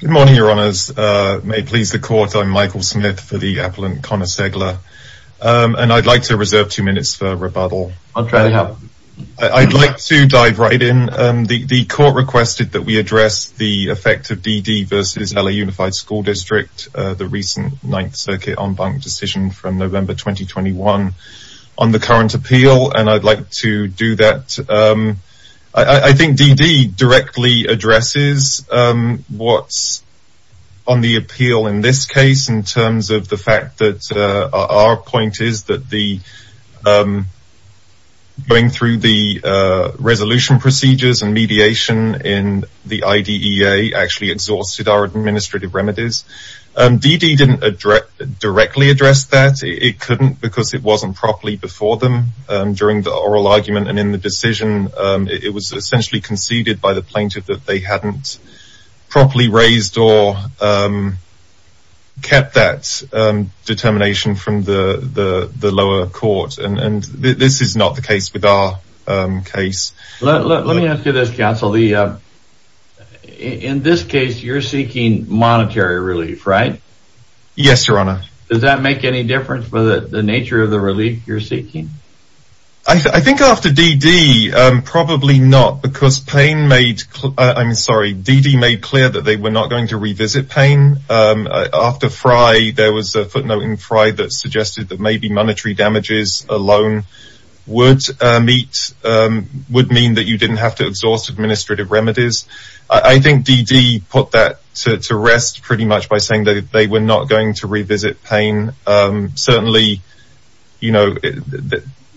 Good morning, Your Honours. May it please the Court, I'm Michael Smith for the Appellant, Connor Segla. And I'd like to reserve two minutes for rebuttal. I'll try to help. I'd like to dive right in. The Court requested that we address the effect of DD v. LA Unified School District, the recent Ninth Circuit en banc decision from November 2021, on the current appeal, and I'd like to do that. I think DD directly addresses what's on the appeal in this case in terms of the fact that our point is that going through the resolution procedures and mediation in the IDEA actually exhausted our administrative remedies. DD didn't directly address that. It couldn't because it wasn't properly before them during the oral argument and in the decision. It was essentially conceded by the plaintiff that they hadn't properly raised or kept that determination from the lower court. And this is not the case with our case. Let me ask you this, Counsel. In this case, you're seeking monetary relief, right? Yes, Your Honour. Does that make any difference for the nature of the relief you're seeking? I think after DD, probably not because DD made clear that they were not going to revisit Payne. After Frye, there was a footnote in Frye that suggested that maybe monetary damages alone would mean that you didn't have to exhaust administrative remedies. I think DD put that to rest pretty much by saying that they were not going to revisit Payne. Certainly, you know,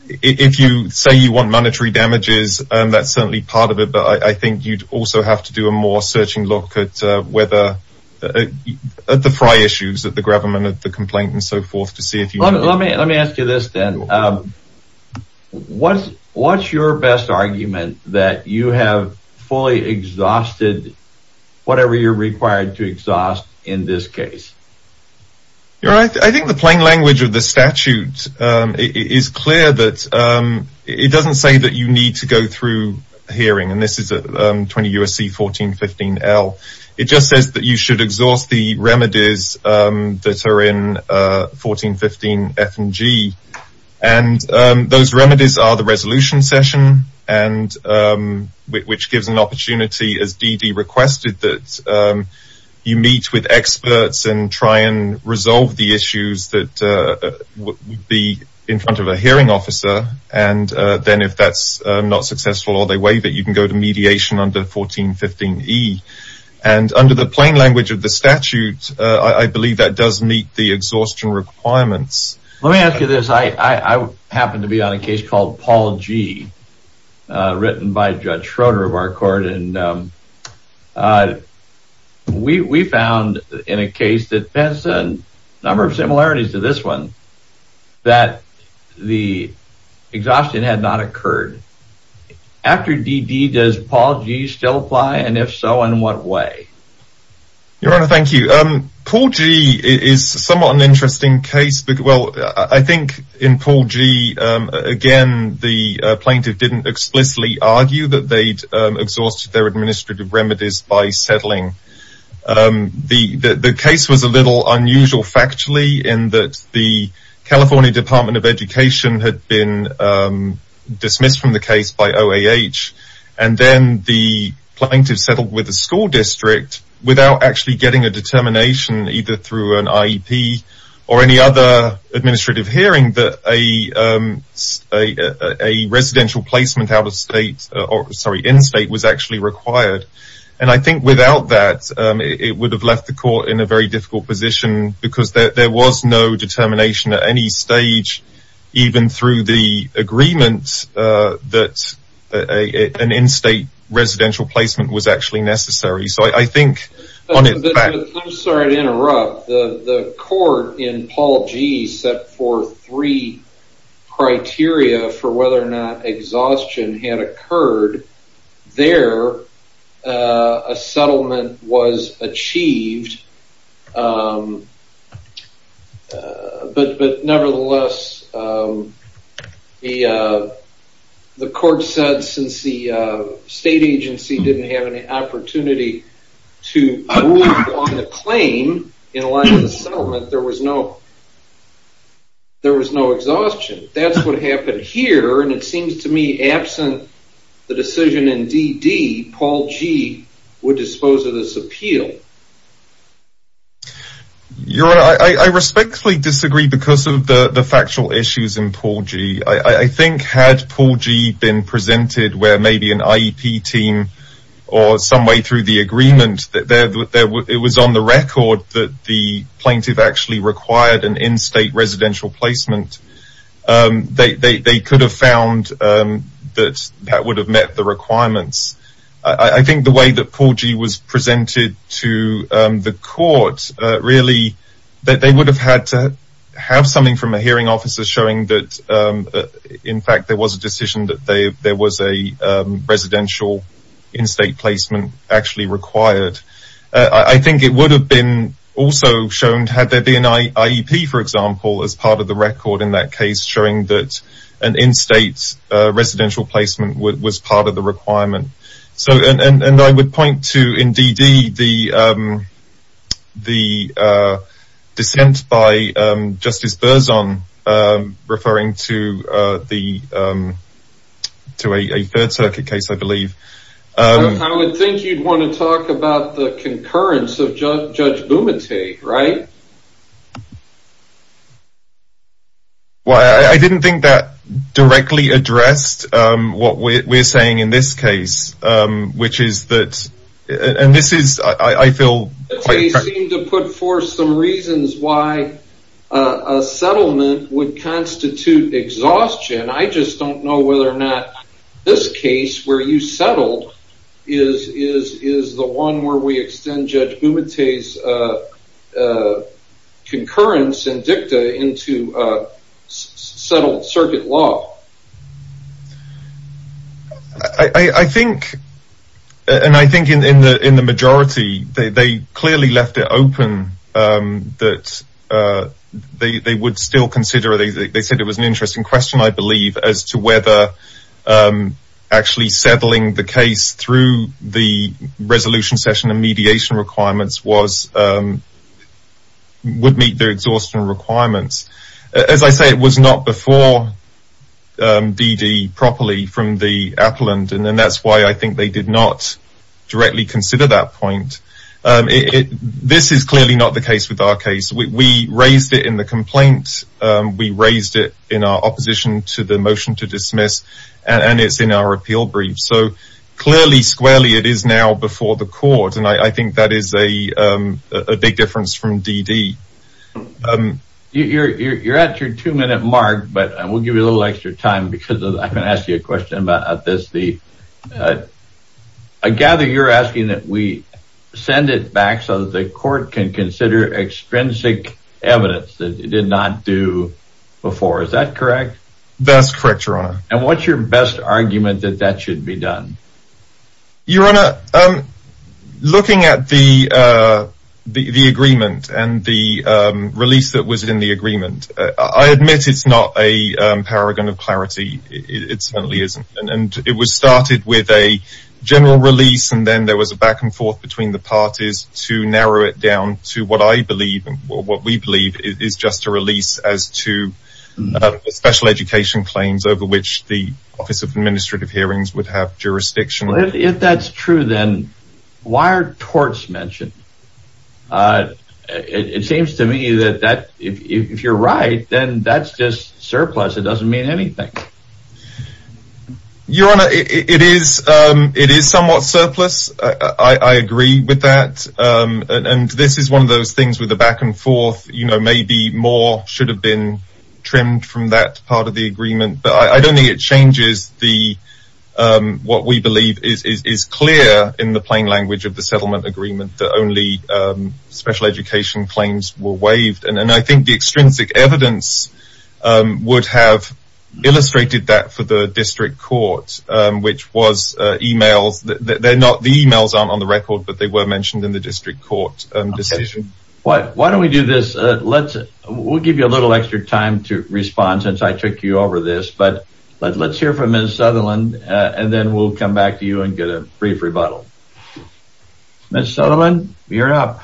if you say you want monetary damages, that's certainly part of it. But I think you'd also have to do a more searching look at the Frye issues, at the gravamen of the complaint and so forth. Let me ask you this then. What's your best argument that you have fully exhausted whatever you're required to exhaust in this case? I think the plain language of the statute is clear that it doesn't say that you need to go through hearing. And this is 20 U.S.C. 1415L. It just says that you should exhaust the remedies that are in 1415F and G. And those remedies are the resolution session, which gives an opportunity, as DD requested, that you meet with experts and try and resolve the issues that would be in front of a hearing officer. And then if that's not successful or they waive it, you can go to mediation under 1415E. And under the plain language of the statute, I believe that does meet the exhaustion requirements. Let me ask you this. I happen to be on a case called Paul G., written by Judge Schroeder of our court. And we found in a case that has a number of similarities to this one that the exhaustion had not occurred. After DD, does Paul G. still apply? And if so, in what way? Your Honor, thank you. Paul G. is somewhat an interesting case. Well, I think in Paul G., again, the plaintiff didn't explicitly argue that they'd exhausted their administrative remedies by settling. The case was a little unusual factually in that the California Department of Education had been dismissed from the case by OAH. And then the plaintiff settled with the school district without actually getting a determination, either through an IEP or any other administrative hearing, that a residential placement in-state was actually required. And I think without that, it would have left the court in a very difficult position because there was no determination at any stage, even through the agreement, that an in-state residential placement was actually necessary. So I think on its back... I'm sorry to interrupt. The court in Paul G. set forth three criteria for whether or not exhaustion had occurred. There, a settlement was achieved. But nevertheless, the court said since the state agency didn't have any opportunity to move on the claim in light of the settlement, there was no exhaustion. That's what happened here, and it seems to me absent the decision in DD, Paul G. would dispose of this appeal. Your Honor, I respectfully disagree because of the factual issues in Paul G. I think had Paul G. been presented where maybe an IEP team or some way through the agreement, it was on the record that the plaintiff actually required an in-state residential placement, they could have found that that would have met the requirements. I think the way that Paul G. was presented to the court, really, that they would have had to have something from a hearing officer showing that, in fact, there was a decision that there was a residential in-state placement actually required. I think it would have been also shown had there been an IEP, for example, as part of the record in that case showing that an in-state residential placement was part of the requirement. I would point to, in DD, the dissent by Justice Berzon referring to a Third Circuit case, I believe. I would think you'd want to talk about the concurrence of Judge Bumate, right? Well, I didn't think that directly addressed what we're saying in this case, which is that, and this is, I feel... Bumate seemed to put forth some reasons why a settlement would constitute exhaustion. I just don't know whether or not this case where you settled is the one where we extend Judge Bumate's concurrence and dicta into settled circuit law. I think, and I think in the majority, they clearly left it open that they would still consider. They said it was an interesting question, I believe, as to whether actually settling the case through the resolution session and mediation requirements would meet their exhaustion requirements. As I say, it was not before DD properly from the appellant, and that's why I think they did not directly consider that point. This is clearly not the case with our case. We raised it in the complaint, we raised it in our opposition to the motion to dismiss, and it's in our appeal brief. So clearly, squarely, it is now before the court, and I think that is a big difference from DD. You're at your two-minute mark, but we'll give you a little extra time because I'm going to ask you a question about this. I gather you're asking that we send it back so that the court can consider extrinsic evidence that it did not do before. Is that correct? That's correct, Your Honor. And what's your best argument that that should be done? Your Honor, looking at the agreement and the release that was in the agreement, I admit it's not a paragon of clarity. It certainly isn't, and it was started with a general release, and then there was a back and forth between the parties to narrow it down to what I believe and what we believe is just a release as to special education claims over which the Office of Administrative Hearings would have jurisdiction. If that's true, then why are torts mentioned? It seems to me that if you're right, then that's just surplus. It doesn't mean anything. Your Honor, it is somewhat surplus. I agree with that, and this is one of those things with the back and forth. Maybe more should have been trimmed from that part of the agreement, but I don't think it changes what we believe is clear in the plain language of the settlement agreement that only special education claims were waived. And I think the extrinsic evidence would have illustrated that for the district court, which was emails. The emails aren't on the record, but they were mentioned in the district court decision. Why don't we do this? We'll give you a little extra time to respond since I took you over this, but let's hear from Ms. Sutherland, and then we'll come back to you and get a brief rebuttal. Ms. Sutherland, you're up.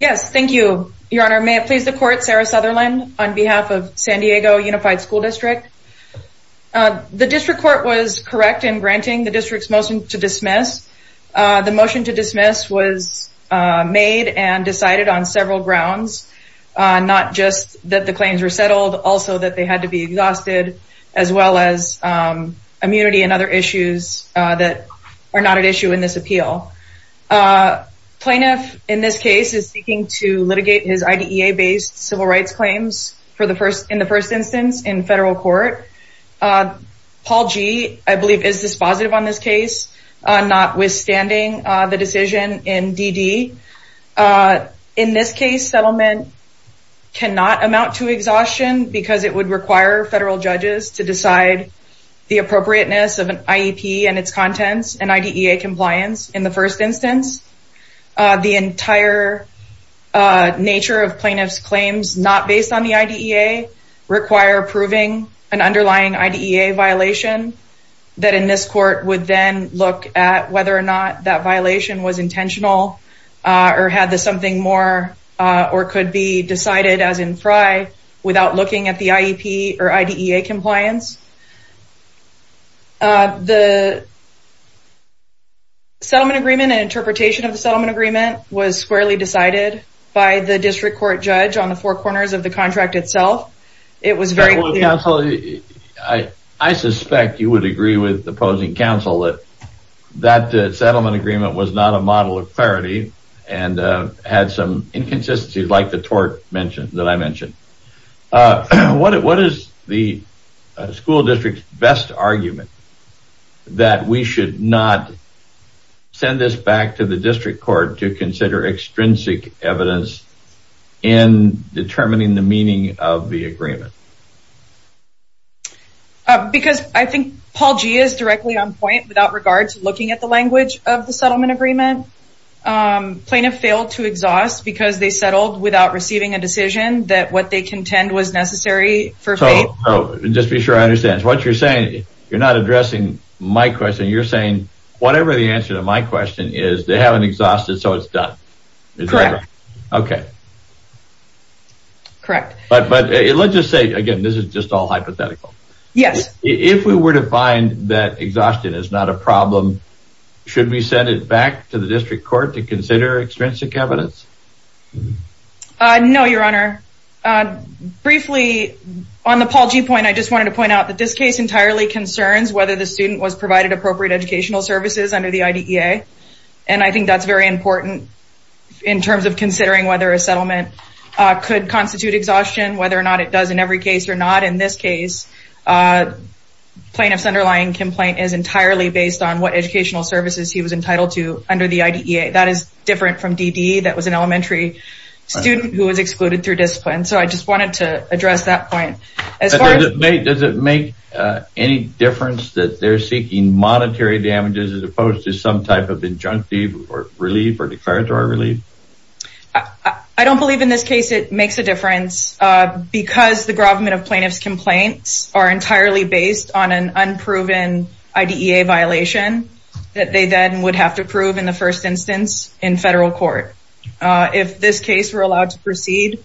Yes, thank you, Your Honor. May it please the court, Sarah Sutherland, on behalf of San Diego Unified School District. The district court was correct in granting the district's motion to dismiss. The motion to dismiss was made and decided on several grounds, not just that the claims were settled, also that they had to be exhausted, as well as immunity and other issues that are not at issue in this appeal. Plaintiff, in this case, is seeking to litigate his IDEA-based civil rights claims in the first instance in federal court. Paul G., I believe, is dispositive on this case, notwithstanding the decision in DD. In this case, settlement cannot amount to exhaustion because it would require federal judges to decide the appropriateness of an IEP and its contents and IDEA compliance in the first instance. The entire nature of plaintiff's claims not based on the IDEA require approving an underlying IDEA violation that in this court would then look at whether or not that violation was intentional or had this something more or could be decided as in FRI without looking at the IEP or IDEA compliance. The settlement agreement and interpretation of the settlement agreement was squarely decided by the district court judge on the four corners of the contract itself. It was very clear... Counsel, I suspect you would agree with the opposing counsel that that settlement agreement was not a model of clarity and had some inconsistencies like the tort that I mentioned. What is the school district's best argument that we should not send this back to the district court to consider extrinsic evidence in determining the meaning of the agreement? Because I think Paul G. is directly on point without regard to looking at the language of the settlement agreement. Plaintiff failed to exhaust because they settled without receiving a decision that what they contend was necessary for faith. Just be sure I understand. What you're saying, you're not addressing my question. You're saying whatever the answer to my question is, they haven't exhausted so it's done. Correct. Okay. Correct. But let's just say, again, this is just all hypothetical. Yes. If we were to find that exhaustion is not a problem, should we send it back to the district court to consider extrinsic evidence? No, Your Honor. Briefly, on the Paul G. point, I just wanted to point out that this case entirely concerns whether the student was provided appropriate educational services under the IDEA. And I think that's very important in terms of considering whether a settlement could constitute exhaustion, whether or not it does in every case or not. In this case, plaintiff's underlying complaint is entirely based on what educational services he was entitled to under the IDEA. That is different from DDE. That was an elementary student who was excluded through discipline. So I just wanted to address that point. Does it make any difference that they're seeking monetary damages as opposed to some type of injunctive relief or declaratory relief? Yes, because the government of plaintiff's complaints are entirely based on an unproven IDEA violation that they then would have to prove in the first instance in federal court. If this case were allowed to proceed,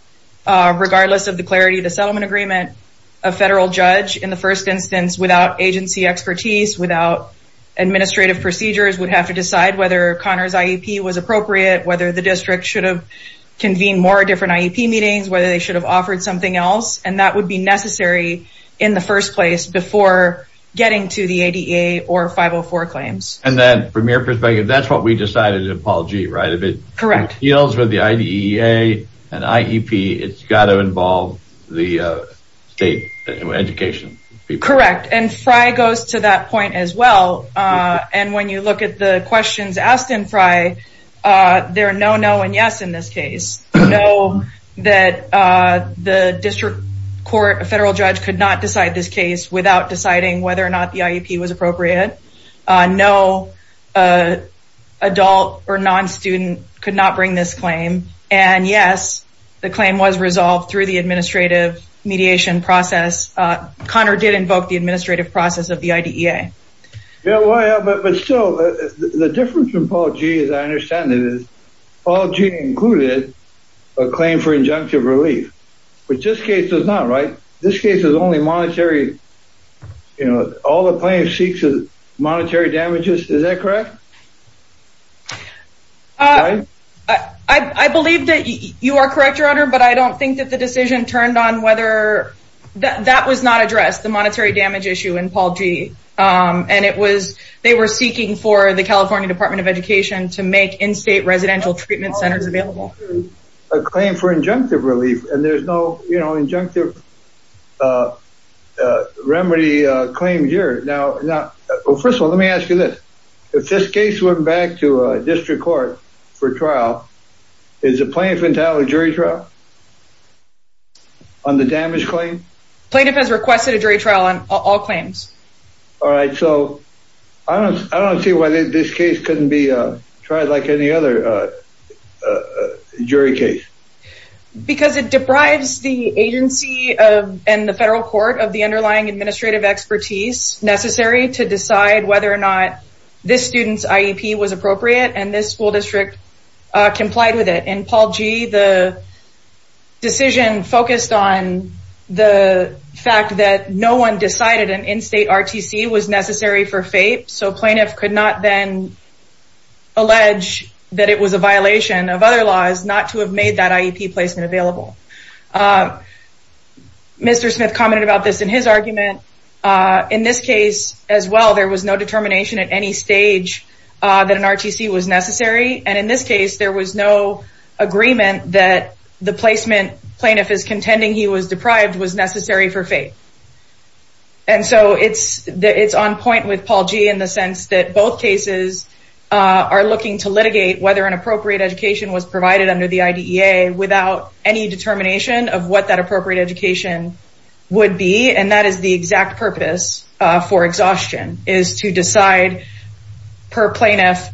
regardless of the clarity of the settlement agreement, a federal judge, in the first instance, without agency expertise, without administrative procedures, would have to decide whether Connor's IEP was appropriate, whether the district should have convened more different IEP meetings, whether they should have offered something else. And that would be necessary in the first place before getting to the IDEA or 504 claims. And then from your perspective, that's what we decided in Apology, right? Correct. If it deals with the IDEA and IEP, it's got to involve the state education people. Correct. And FRI goes to that point as well. And when you look at the questions asked in FRI, there are no no and yes in this case. No, that the district court, a federal judge could not decide this case without deciding whether or not the IEP was appropriate. No adult or non-student could not bring this claim. And yes, the claim was resolved through the administrative mediation process. Connor did invoke the administrative process of the IDEA. But still, the difference from Apology, as I understand it, is Apology included a claim for injunctive relief, which this case does not. Right. This case is only monetary. You know, all the claims seeks is monetary damages. Is that correct? I believe that you are correct, Your Honor, but I don't think that the decision turned on whether that was not addressed. That's the monetary damage issue in Apology. And it was they were seeking for the California Department of Education to make in-state residential treatment centers available. A claim for injunctive relief and there's no injunctive remedy claim here. Now, first of all, let me ask you this. If this case went back to a district court for trial, is a plaintiff entitled to jury trial on the damage claim? Plaintiff has requested a jury trial on all claims. All right. So I don't see why this case couldn't be tried like any other jury case. Because it deprives the agency of and the federal court of the underlying administrative expertise necessary to decide whether or not this student's IEP was appropriate and this school district complied with it. In Apology, the decision focused on the fact that no one decided an in-state RTC was necessary for FAPE. So plaintiff could not then allege that it was a violation of other laws not to have made that IEP placement available. Mr. Smith commented about this in his argument. In this case as well, there was no determination at any stage that an RTC was necessary. And in this case, there was no agreement that the placement plaintiff is contending he was deprived was necessary for FAPE. And so it's on point with Apology in the sense that both cases are looking to litigate whether an appropriate education was provided under the IDEA without any determination of what that appropriate education would be. And that is the exact purpose for exhaustion is to decide per plaintiff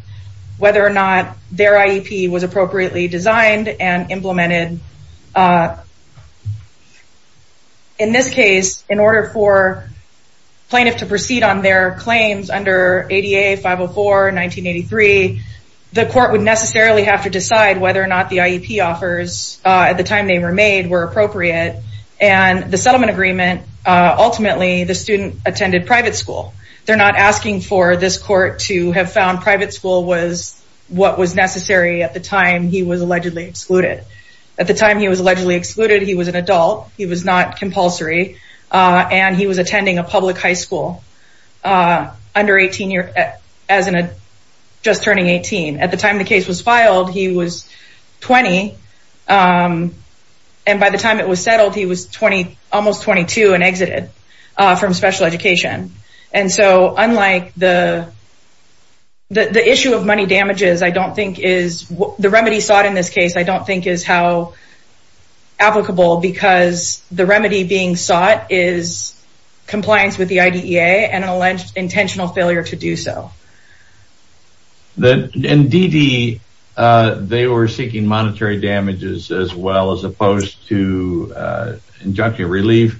whether or not their IEP was appropriately designed and implemented. In this case, in order for plaintiff to proceed on their claims under ADA 504 1983, the court would necessarily have to decide whether or not the IEP offers at the time they were made were appropriate. And the settlement agreement, ultimately, the student attended private school. They're not asking for this court to have found private school was what was necessary at the time he was allegedly excluded. At the time he was allegedly excluded, he was an adult. He was not compulsory. And he was attending a public high school under 18 years as in a just turning 18. At the time the case was filed, he was 20. And by the time it was settled, he was 20, almost 22 and exited from special education. And so unlike the issue of money damages, I don't think is the remedy sought in this case. I don't think is how applicable because the remedy being sought is compliance with the IDEA and an alleged intentional failure to do so. In DD, they were seeking monetary damages as well as opposed to injunction relief.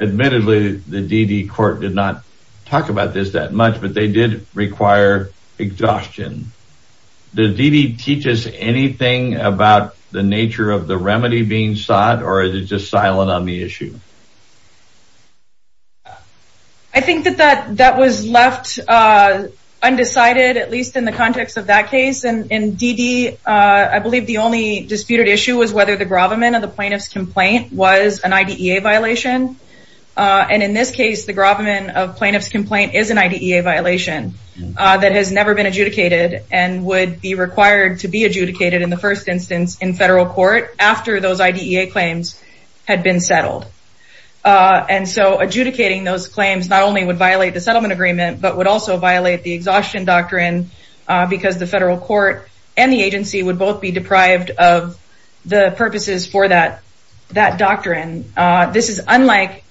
Admittedly, the DD court did not talk about this that much, but they did require exhaustion. Did DD teach us anything about the nature of the remedy being sought or is it just silent on the issue? I think that that was left undecided, at least in the context of that case. And in DD, I believe the only disputed issue was whether the grovement of the plaintiff's complaint was an IDEA violation. And in this case, the grovement of plaintiff's complaint is an IDEA violation that has never been adjudicated and would be required to be adjudicated in the first instance in federal court after those IDEA claims had been settled. And so adjudicating those claims not only would violate the settlement agreement, but would also violate the exhaustion doctrine because the federal court and the agency would both be deprived of the purposes for that doctrine. This is unlike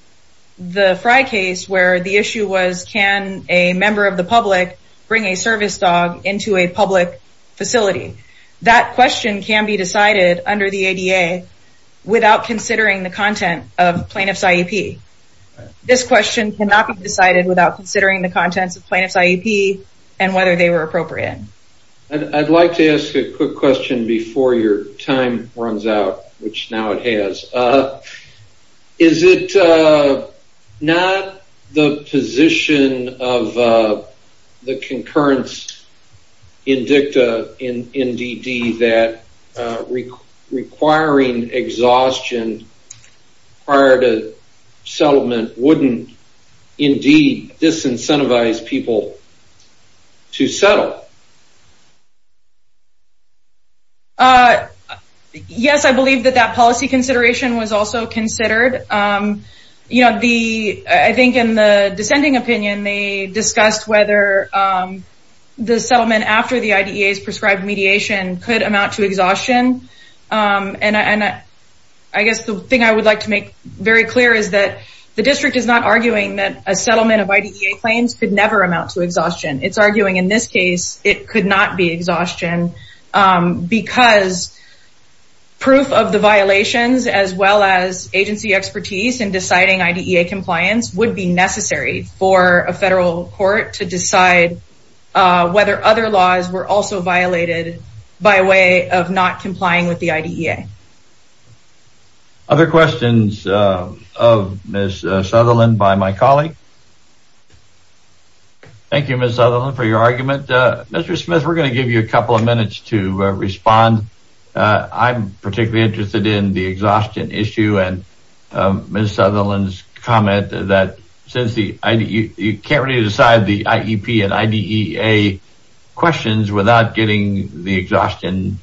the Frye case where the issue was, can a member of the public bring a service dog into a public facility? That question can be decided under the ADA without considering the content of plaintiff's IEP. This question cannot be decided without considering the contents of plaintiff's IEP and whether they were appropriate. I'd like to ask a quick question before your time runs out, which now it has. Is it not the position of the concurrence in dicta in DD that requiring exhaustion prior to settlement wouldn't indeed disincentivize people to settle? Yes, I believe that that policy consideration was also considered. I think in the dissenting opinion, they discussed whether the settlement after the IDEA's prescribed mediation could amount to exhaustion. And I guess the thing I would like to make very clear is that the district is not arguing that a settlement of IDEA claims could never amount to exhaustion. It's arguing in this case, it could not be exhaustion because proof of the violations as well as agency expertise in deciding IDEA compliance would be necessary for a federal court to decide whether other laws were also violated by way of not complying with the IDEA. Other questions of Ms. Sutherland by my colleague? Thank you, Ms. Sutherland, for your argument. Mr. Smith, we're going to give you a couple of minutes to respond. I'm particularly interested in the exhaustion issue and Ms. Sutherland's comment that since you can't really decide the IEP and IDEA questions without getting the exhaustion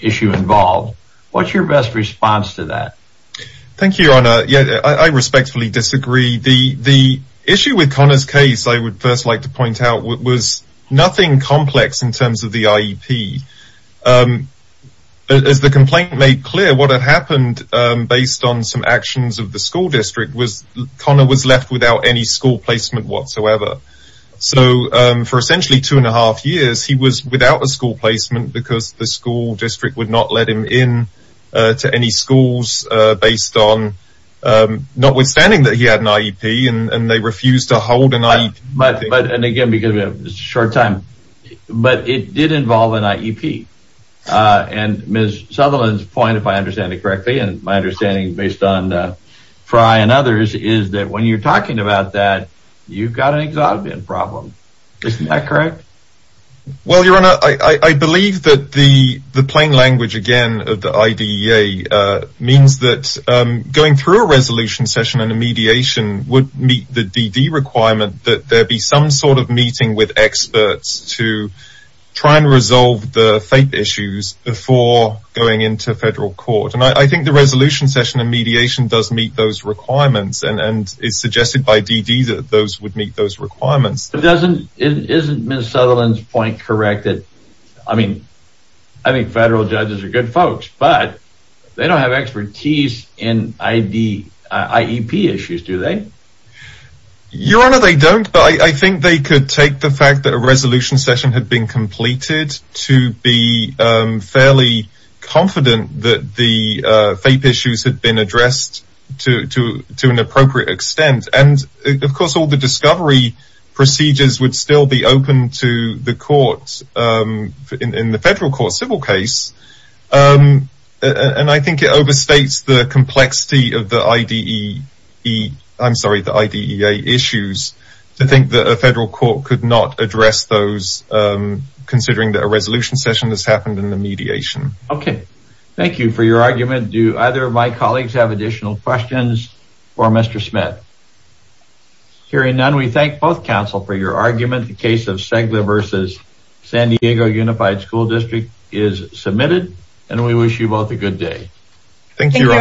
issue involved, what's your best response to that? Thank you, Your Honor. I respectfully disagree. The issue with Connor's case, I would first like to point out, was nothing complex in terms of the IEP. As the complaint made clear, what had happened based on some actions of the school district was Connor was left without any school placement whatsoever. So for essentially two and a half years, he was without a school placement because the school district would not let him in to any schools based on notwithstanding that he had an IEP and they refused to hold an IEP. But it did involve an IEP and Ms. Sutherland's point, if I understand it correctly, and my understanding based on Frye and others, is that when you're talking about that, you've got an exhaustion problem. Isn't that correct? Well, Your Honor, I believe that the plain language again of the IDEA means that going through a resolution session and a mediation would meet the DD requirement that there be some sort of meeting with experts to try and resolve the fate issues before going into federal court. And I think the resolution session and mediation does meet those requirements and is suggested by DD that those would meet those requirements. But isn't Ms. Sutherland's point correct that, I mean, I think federal judges are good folks, but they don't have expertise in IEP issues, do they? Your Honor, they don't. But I think they could take the fact that a resolution session had been completed to be fairly confident that the fate issues had been addressed to an appropriate extent. And, of course, all the discovery procedures would still be open to the courts in the federal court civil case. And I think it overstates the complexity of the IDEA issues to think that a federal court could not address those considering that a resolution session has happened in the mediation. Okay. Thank you for your argument. Do either of my colleagues have additional questions for Mr. Smith? Hearing none, we thank both counsel for your argument. The case of Segla versus San Diego Unified School District is submitted, and we wish you both a good day. Thank you.